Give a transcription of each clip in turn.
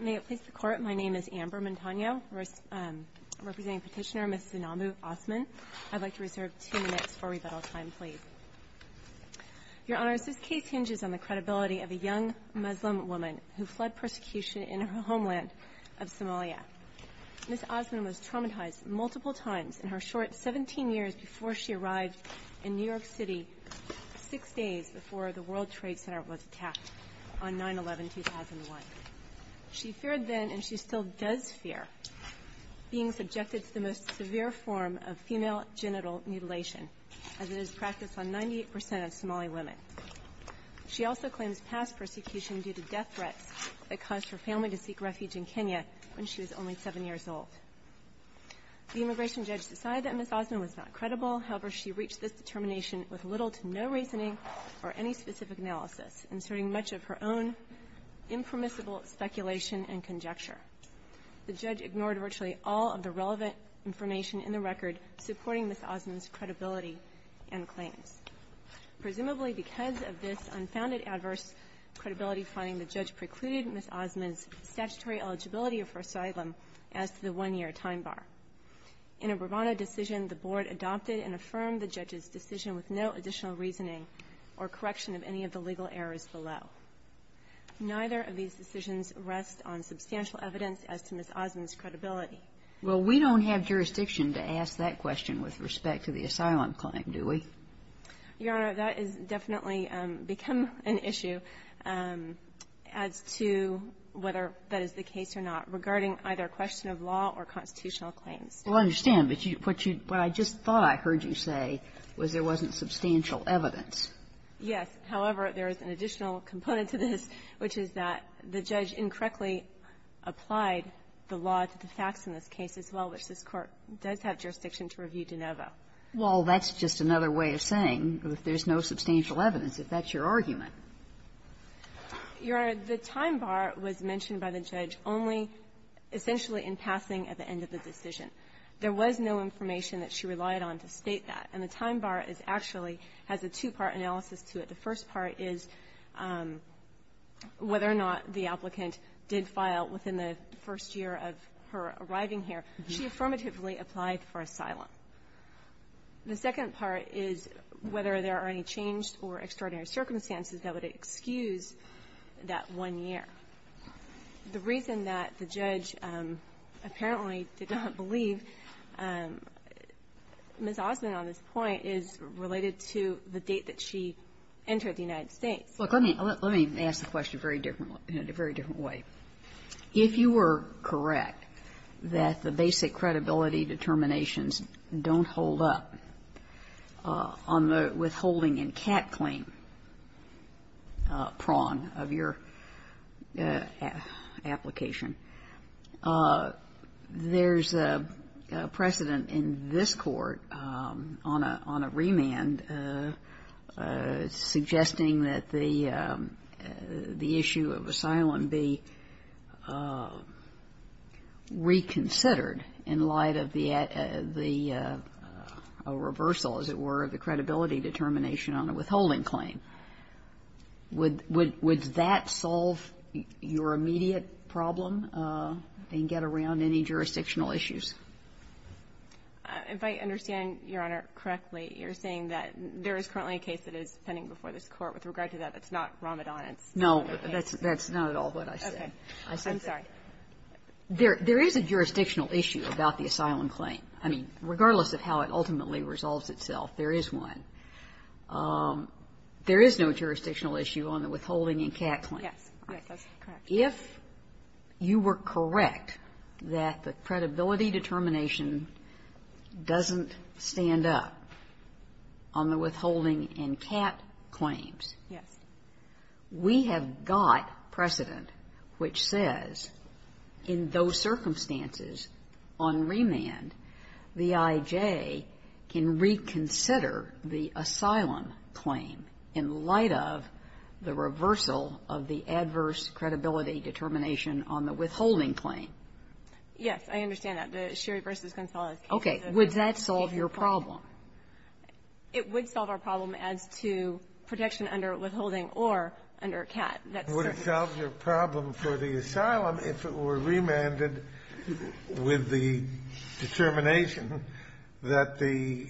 May it please the Court, my name is Amber Montano, representing petitioner Ms. Zainabu Osman. I'd like to reserve two minutes for rebuttal time, please. Your Honor, this case hinges on the credibility of a young Muslim woman who fled persecution in her homeland of Somalia. Ms. Osman was traumatized multiple times in her short 17 years before she arrived in New York City six days before the World Trade Center was attacked on 9-11-2001. She feared then, and she still does fear, being subjected to the most severe form of female genital mutilation, as it is practiced on 98% of Somali women. She also claims past persecution due to death threats that caused her family to seek refuge in Kenya when she was only seven years old. The immigration judge decided that Ms. Osman was not credible, however, she reached this determination with little to no reasoning or any specific analysis, inserting much of her own impermissible speculation and conjecture. The judge ignored virtually all of the relevant information in the record supporting Ms. Osman's credibility and claims. Presumably because of this unfounded adverse credibility finding, the judge precluded Ms. Osman's statutory eligibility for asylum as to the one-year time bar. In a bravado decision, the Board adopted and affirmed the judge's decision with no additional reasoning or correction of any of the legal errors below. Neither of these decisions rest on substantial evidence as to Ms. Osman's credibility. Well, we don't have jurisdiction to ask that question with respect to the asylum claim, do we? Your Honor, that has definitely become an issue. As to whether that is the case or not, regarding either question of law or constitutional claims. Well, I understand. But what I just thought I heard you say was there wasn't substantial evidence. Yes. However, there is an additional component to this, which is that the judge incorrectly applied the law to the facts in this case as well, which this Court does have jurisdiction to review de novo. Well, that's just another way of saying there's no substantial evidence, if that's your argument. Your Honor, the time bar was mentioned by the judge only essentially in passing at the end of the decision. There was no information that she relied on to state that. And the time bar is actually has a two-part analysis to it. The first part is whether or not the applicant did file within the first year of her arriving here. She affirmatively applied for asylum. The second part is whether there are any changed or extraordinary circumstances that would excuse that one year. The reason that the judge apparently did not believe Ms. Osmond on this point is related to the date that she entered the United States. Look, let me ask the question in a very different way. If you were correct that the basic credibility determinations don't hold up on the withholding and cap claim prong of your application, there's a precedent in this court on a remand suggesting that the issue of asylum be not held up on a remand and be reconsidered in light of the reversal, as it were, of the credibility determination on a withholding claim. Would that solve your immediate problem and get around any jurisdictional issues? If I understand, Your Honor, correctly, you're saying that there is currently a case that is pending before this Court with regard to that. It's not Ramadan. It's another case. No, that's not at all what I said. I'm sorry. There is a jurisdictional issue about the asylum claim. I mean, regardless of how it ultimately resolves itself, there is one. There is no jurisdictional issue on the withholding and cap claim. Yes, that's correct. If you were correct that the credibility determination doesn't stand up on the withholding claims, we have got precedent which says in those circumstances on remand, the I.J. can reconsider the asylum claim in light of the reversal of the adverse credibility determination on the withholding claim. Yes, I understand that. The Sherry v. Gonzalez case is a significant problem. Okay. Would that solve your problem? It would solve our problem as to protection under withholding or under a cap. That's certainly the case. Would it solve your problem for the asylum if it were remanded with the determination that the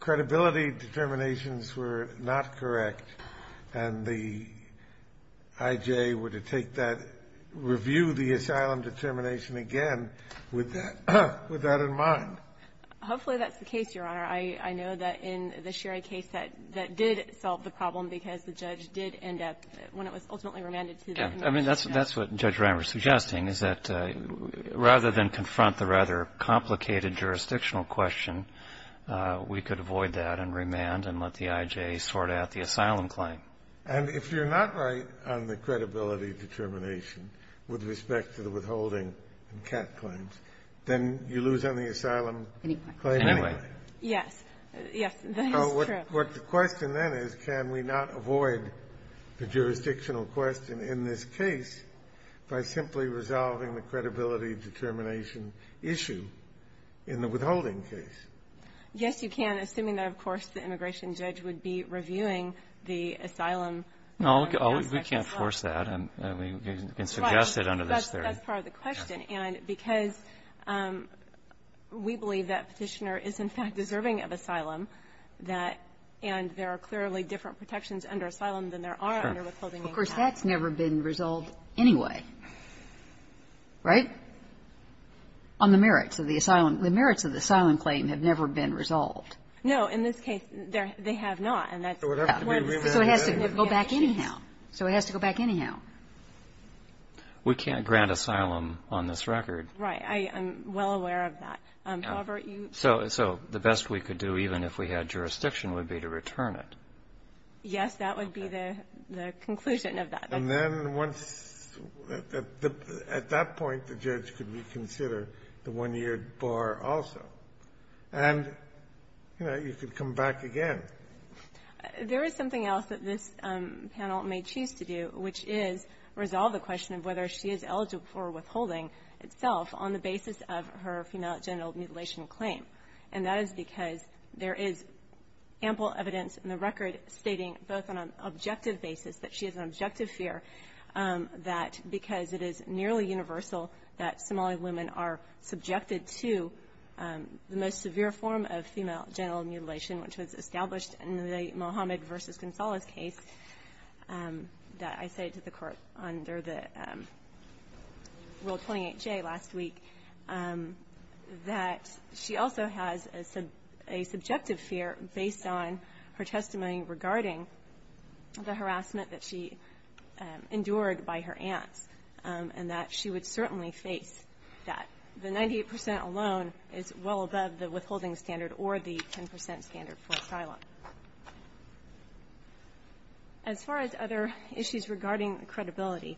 credibility determinations were not correct and the I.J. were to take that, review the asylum determination again with that in mind? Hopefully, that's the case, Your Honor. I know that in the Sherry case, that did solve the problem because the judge did end up, when it was ultimately remanded to the emergency judge. I mean, that's what Judge Reimer is suggesting, is that rather than confront the rather complicated jurisdictional question, we could avoid that and remand and let the I.J. sort out the asylum claim. And if you're not right on the credibility determination with respect to the withholding and cap claims, then you lose on the asylum claim anyway. Yes. Yes, that is true. What the question then is, can we not avoid the jurisdictional question in this case by simply resolving the credibility determination issue in the withholding case? Yes, you can, assuming that, of course, the immigration judge would be reviewing the asylum. No, we can't force that. And we can suggest it under this theory. That's part of the question. And because we believe that Petitioner is, in fact, deserving of asylum, that and there are clearly different protections under asylum than there are under withholding and cap. Of course, that's never been resolved anyway, right? On the merits of the asylum. The merits of the asylum claim have never been resolved. No, in this case, they have not. So it has to go back anyhow. So it has to go back anyhow. We can't grant asylum on this record. Right. I am well aware of that. However, you So the best we could do, even if we had jurisdiction, would be to return it. Yes, that would be the conclusion of that. And then once at that point, the judge could reconsider the one-year bar also. And, you know, you could come back again. There is something else that this panel may choose to do, which is resolve the question of whether she is eligible for withholding itself on the basis of her female genital mutilation claim. And that is because there is ample evidence in the record stating both on an objective basis that she has an objective fear that because it is nearly universal that Somali women are subjected to the most severe form of female genital mutilation, which was established in the Mohammed versus Gonzalez case that I said to the court under the World 28-J last week, that she also has a subjective fear based on her testimony regarding the harassment that she endured by her aunts, and that she would certainly face that. The 98 percent alone is well above the withholding standard or the 10 percent standard for asylum. As far as other issues regarding credibility,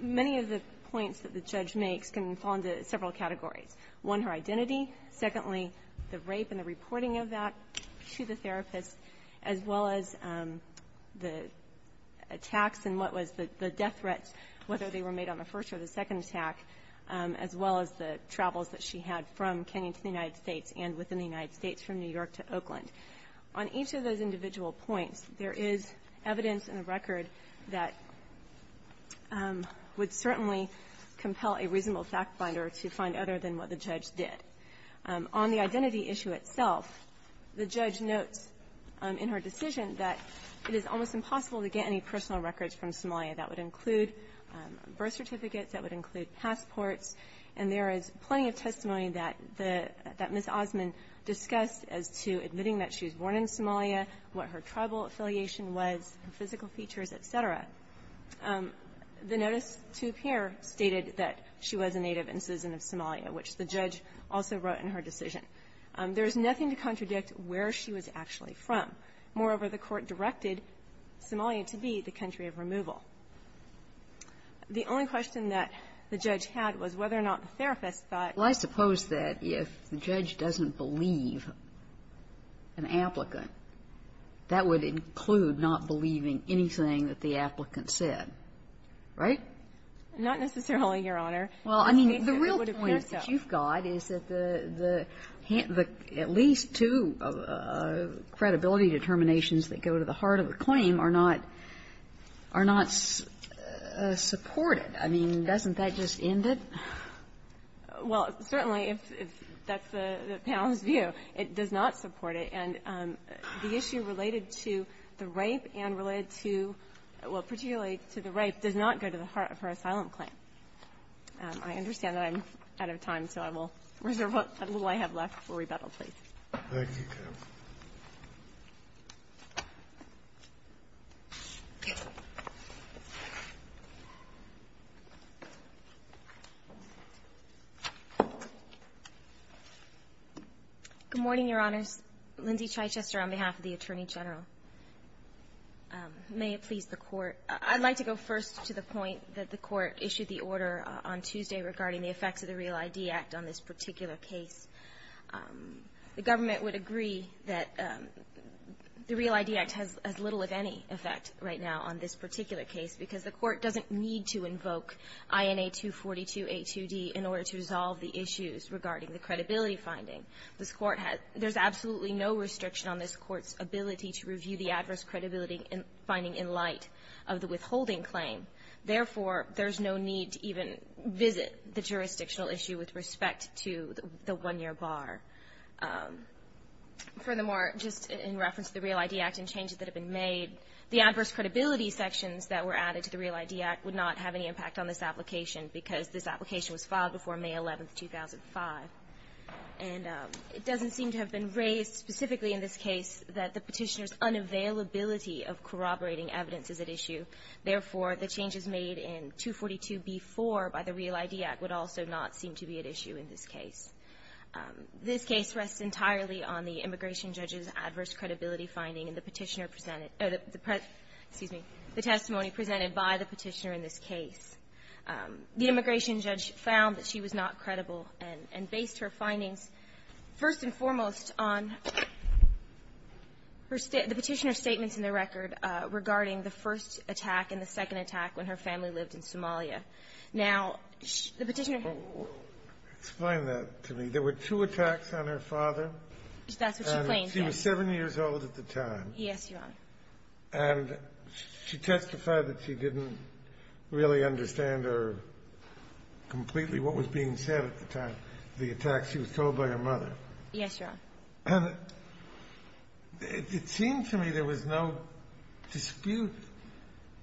many of the points that the judge makes can fall into several categories. One, her identity. Secondly, the rape and the reporting of that to the therapist, as well as the attacks and what was the death threats, whether they were made on the first or the As well as the travels that she had from Kenya to the United States and within the United States, from New York to Oakland. On each of those individual points, there is evidence in the record that would certainly compel a reasonable fact-finder to find other than what the judge did. On the identity issue itself, the judge notes in her decision that it is almost impossible to get any personal records from Somalia. That would include birth certificates, that would include passports, and there is plenty of testimony that the Ms. Osman discussed as to admitting that she was born in Somalia, what her tribal affiliation was, physical features, et cetera. The notice to appear stated that she was a native and citizen of Somalia, which the judge also wrote in her decision. There is nothing to contradict where she was actually from. The only question that the judge had was whether or not the therapist thought Kagan. Well, I suppose that if the judge doesn't believe an applicant, that would include not believing anything that the applicant said, right? Not necessarily, Your Honor. Well, I mean, the real point that you've got is that the at least two credibility determinations that go to the heart of the claim are not supported. I mean, doesn't that just end it? Well, certainly, if that's the panel's view, it does not support it. And the issue related to the rape and related to the rape does not go to the heart of her asylum claim. I understand that I'm out of time, so I will reserve what little I have left for rebuttal, please. Thank you, Your Honor. Good morning, Your Honors. Lindsay Chichester on behalf of the Attorney General. May it please the Court. I'd like to go first to the point that the Court issued the order on Tuesday regarding the effects of the REAL ID Act on this particular case. The government would agree that the REAL ID Act has little, if any, effect right now on this particular case because the Court doesn't need to invoke INA 242a2d in order to resolve the issues regarding the credibility finding. This Court has – there's absolutely no restriction on this Court's ability to review the adverse credibility finding in light of the withholding claim. Therefore, there's no need to even visit the jurisdictional issue with respect to the one-year bar. Furthermore, just in reference to the REAL ID Act and changes that have been made, the adverse credibility sections that were added to the REAL ID Act would not have any impact on this application because this application was filed before May 11, 2005. And it doesn't seem to have been raised specifically in this case that the Petitioner's unavailability of corroborating evidence is at issue. Therefore, the changes made in 242b4 by the REAL ID Act would also not seem to be at issue in this case. This case rests entirely on the immigration judge's adverse credibility finding in the Petitioner presented – excuse me, the testimony presented by the Petitioner in this case. The immigration judge found that she was not credible and based her findings first and foremost on her – the Petitioner's statements in the record regarding the first attack and the second attack when her family lived in Somalia. Now, the Petitioner – Explain that to me. There were two attacks on her father. That's what she claims, yes. And she was 7 years old at the time. Yes, Your Honor. And she testified that she didn't really understand or – completely what was being said at the time, the attacks. She was told by her mother. Yes, Your Honor. And it seemed to me there was no dispute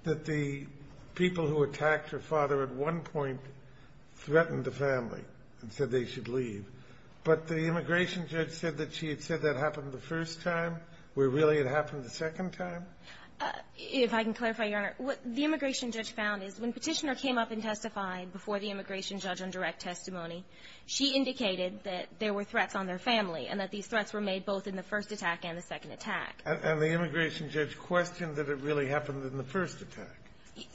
that the people who attacked her father at one point threatened the family and said they should leave. But the immigration judge said that she had said that happened the first time, where really it happened the second time? If I can clarify, Your Honor, what the immigration judge found is when Petitioner came up and testified before the immigration judge on direct testimony, she indicated that there were threats on their family and that these threats were made both in the first attack and the second attack. And the immigration judge questioned that it really happened in the first attack.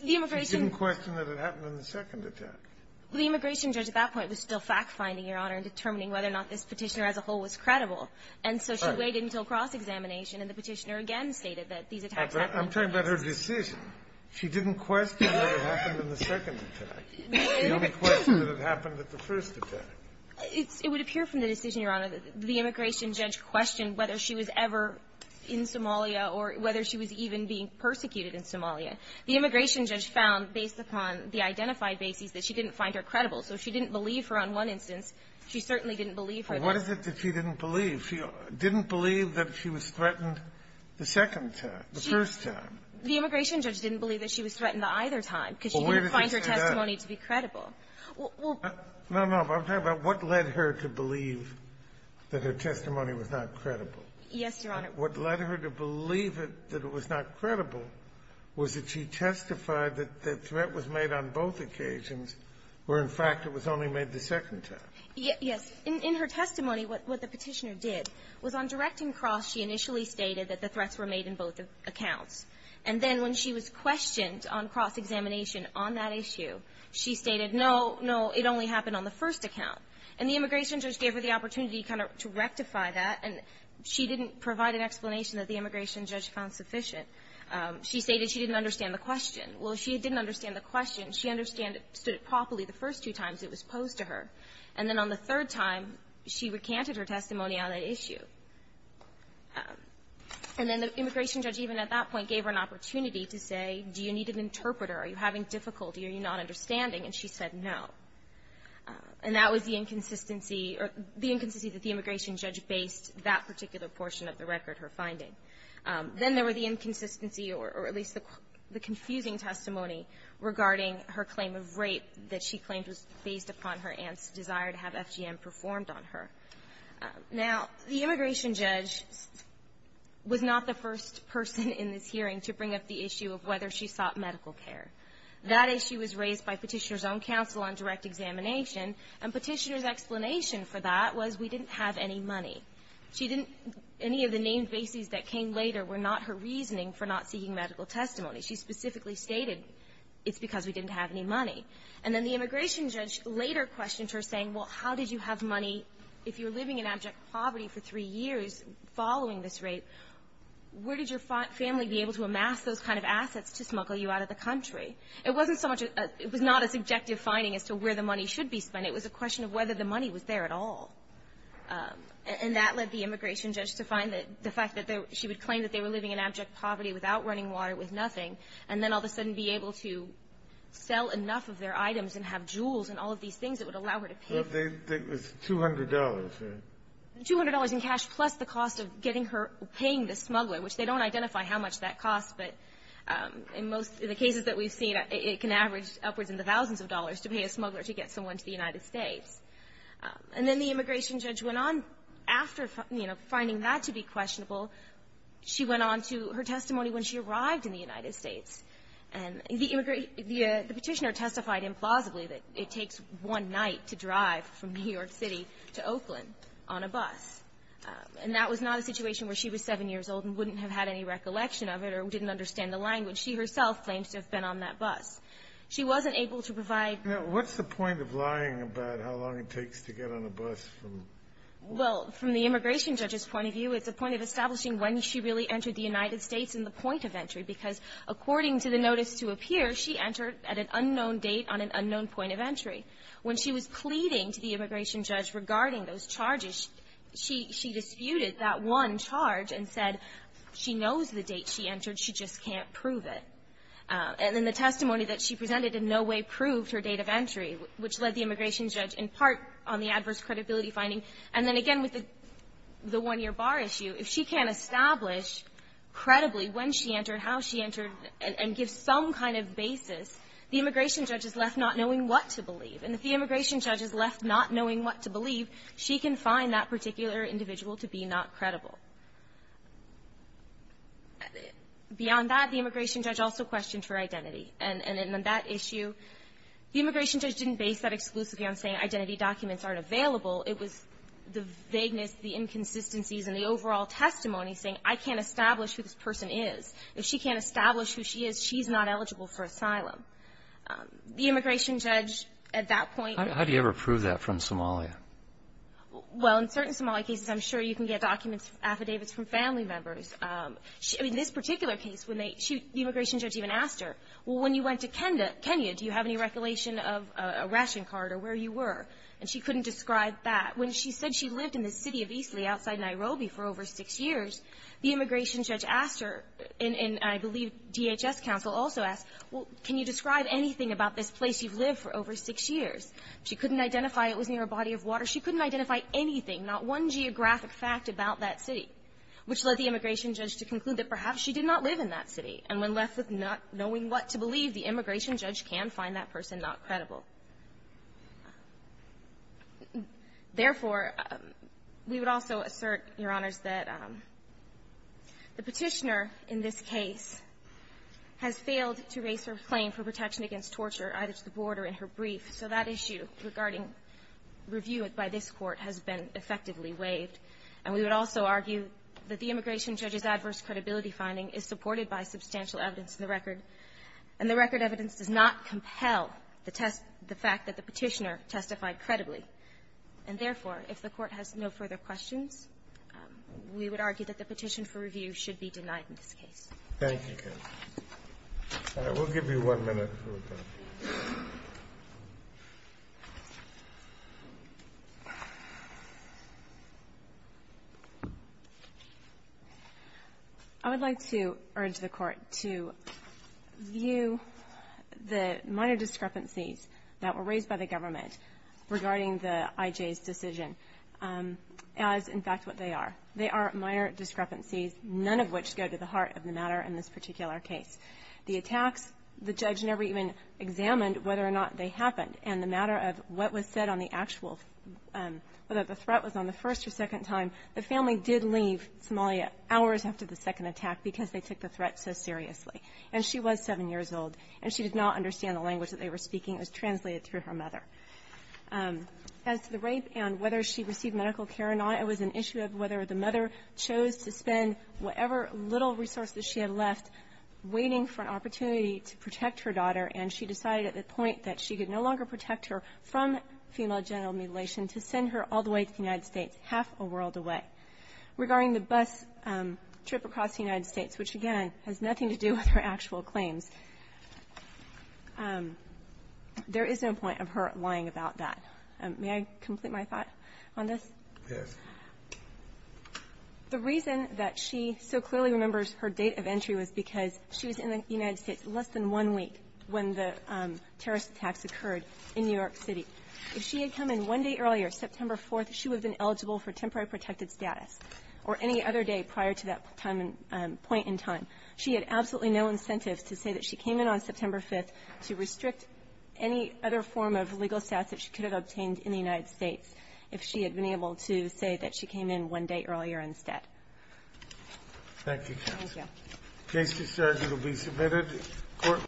The immigration – She didn't question that it happened in the second attack. The immigration judge at that point was still fact-finding, Your Honor, in determining whether or not this Petitioner as a whole was credible. And so she waited until cross-examination, and the Petitioner again stated that these attacks happened in the first. I'm talking about her decision. She didn't question that it happened in the second attack. The only question is that it happened at the first attack. It would appear from the decision, Your Honor, that the immigration judge questioned whether she was ever in Somalia or whether she was even being persecuted in Somalia. The immigration judge found, based upon the identified bases, that she didn't find her credible. So she didn't believe her on one instance. She certainly didn't believe her. What is it that she didn't believe? She didn't believe that she was threatened the second time, the first time. The immigration judge didn't believe that she was threatened the either time because she didn't find her testimony to be credible. Well, where does it say that? Well – No, no. I'm talking about what led her to believe that her testimony was not credible. Yes, Your Honor. What led her to believe it, that it was not credible, was that she testified that the threat was made on both occasions, where, in fact, it was only made the second time. Yes. In her testimony, what the Petitioner did was, on directing cross, she initially stated that the threats were made in both accounts. And then when she was questioned on cross-examination on that issue, she stated, no, no, it only happened on the first account. And the immigration judge gave her the opportunity kind of to rectify that, and she didn't provide an explanation that the immigration judge found sufficient. She stated she didn't understand the question. Well, she didn't understand the question. She understood it properly the first two times it was posed to her. And then on the third time, she recanted her testimony on that issue. And then the immigration judge, even at that point, gave her an opportunity to say, do you need an interpreter? Are you having difficulty or are you not understanding? And she said, no. And that was the inconsistency or the inconsistency that the immigration judge based that particular portion of the record, her finding. Then there were the inconsistency or at least the confusing testimony regarding her claim of rape that she claimed was based upon her aunt's desire to have FGM performed on her. Now, the immigration judge was not the first person in this hearing to bring up the issue of whether she sought medical care. That issue was raised by Petitioner's own counsel on direct examination. And Petitioner's explanation for that was we didn't have any money. She didn't any of the named bases that came later were not her reasoning for not seeking medical testimony. She specifically stated it's because we didn't have any money. And then the immigration judge later questioned her, saying, well, how did you have money if you're living in abject poverty for three years following this rape? Where did your family be able to amass those kind of assets to smuggle you out of the country? It wasn't so much a – it was not a subjective finding as to where the money should be spent. It was a question of whether the money was there at all. And that led the immigration judge to find that the fact that she would claim that they were living in abject poverty without running water, with nothing, and then all of a sudden be able to sell enough of their items and have jewels and all of these things that would allow her to pay. It was $200, right? $200 in cash, plus the cost of getting her – paying the smuggler, which they don't identify how much that costs. But in most of the cases that we've seen, it can average upwards in the thousands of dollars to pay a smuggler to get someone to the United States. And then the immigration judge went on after, you know, finding that to be questionable. She went on to her testimony when she arrived in the United States. And the petitioner testified implausibly that it takes one night to drive from New York City to Oakland on a bus. And that was not a situation where she was 7 years old and wouldn't have had any recollection of it or didn't understand the language. She herself claims to have been on that bus. She wasn't able to provide – Now, what's the point of lying about how long it takes to get on a bus from – Well, from the immigration judge's point of view, it's a point of establishing when she really entered the United States and the point of entry, because according to the notice to appear, she entered at an unknown date on an unknown point of entry. When she was pleading to the immigration judge regarding those charges, she – she entered, she just can't prove it. And then the testimony that she presented in no way proved her date of entry, which led the immigration judge in part on the adverse credibility finding. And then again, with the one-year bar issue, if she can't establish credibly when she entered, how she entered, and give some kind of basis, the immigration judge is left not knowing what to believe. And if the immigration judge is left not knowing what to believe, she can find that particular individual to be not credible. Beyond that, the immigration judge also questioned her identity. And in that issue, the immigration judge didn't base that exclusively on saying identity documents aren't available. It was the vagueness, the inconsistencies, and the overall testimony saying, I can't establish who this person is. If she can't establish who she is, she's not eligible for asylum. The immigration judge, at that point – How do you ever prove that from Somalia? Well, in certain Somali cases, I'm sure you can get documents, affidavits from family members. I mean, this particular case, when they – the immigration judge even asked her, well, when you went to Kenya, do you have any recollation of a ration card or where you were? And she couldn't describe that. When she said she lived in the city of Eastley outside Nairobi for over six years, the immigration judge asked her, and I believe DHS counsel also asked, well, can you describe anything about this place you've lived for over six years? She couldn't identify it was near a body of water. She couldn't identify anything, not one geographic fact about that city, which led the immigration judge to conclude that perhaps she did not live in that city. And when left with not knowing what to believe, the immigration judge can find that person not credible. Therefore, we would also assert, Your Honors, that the Petitioner in this case has failed to raise her claim for protection against torture, either to the board or in her brief. So that issue regarding review by this Court has been effectively waived. And we would also argue that the immigration judge's adverse credibility finding is supported by substantial evidence in the record, and the record evidence does not compel the test – the fact that the Petitioner testified credibly. And therefore, if the Court has no further questions, we would argue that the petition for review should be denied in this case. Thank you, counsel. And I will give you one minute. I would like to urge the Court to view the minor discrepancies that were raised by the government regarding the I.J.'s decision as, in fact, what they are. They are minor discrepancies, none of which go to the heart of the matter. In this particular case, the attacks, the judge never even examined whether or not they happened. And the matter of what was said on the actual – whether the threat was on the first or second time, the family did leave Somalia hours after the second attack because they took the threat so seriously. And she was 7 years old, and she did not understand the language that they were speaking. It was translated through her mother. As to the rape and whether she received medical care or not, it was an issue of whether the mother chose to spend whatever little resources she had left waiting for an opportunity to protect her daughter, and she decided at that point that she could no longer protect her from female genital mutilation, to send her all the way to the United States, half a world away. Regarding the bus trip across the United States, which, again, has nothing to do with her actual claims, there is no point of her lying about that. May I complete my thought on this? Yes. The reason that she so clearly remembers her date of entry was because she was in the United States less than one week when the terrorist attacks occurred in New York City. If she had come in one day earlier, September 4th, she would have been eligible for temporary protected status or any other day prior to that time and point in time. She had absolutely no incentives to say that she came in on September 5th to restrict any other form of legal status that she could have obtained in the United States if she had been able to say that she came in one day earlier instead. Thank you, counsel. Thank you. The case is served. It will be submitted.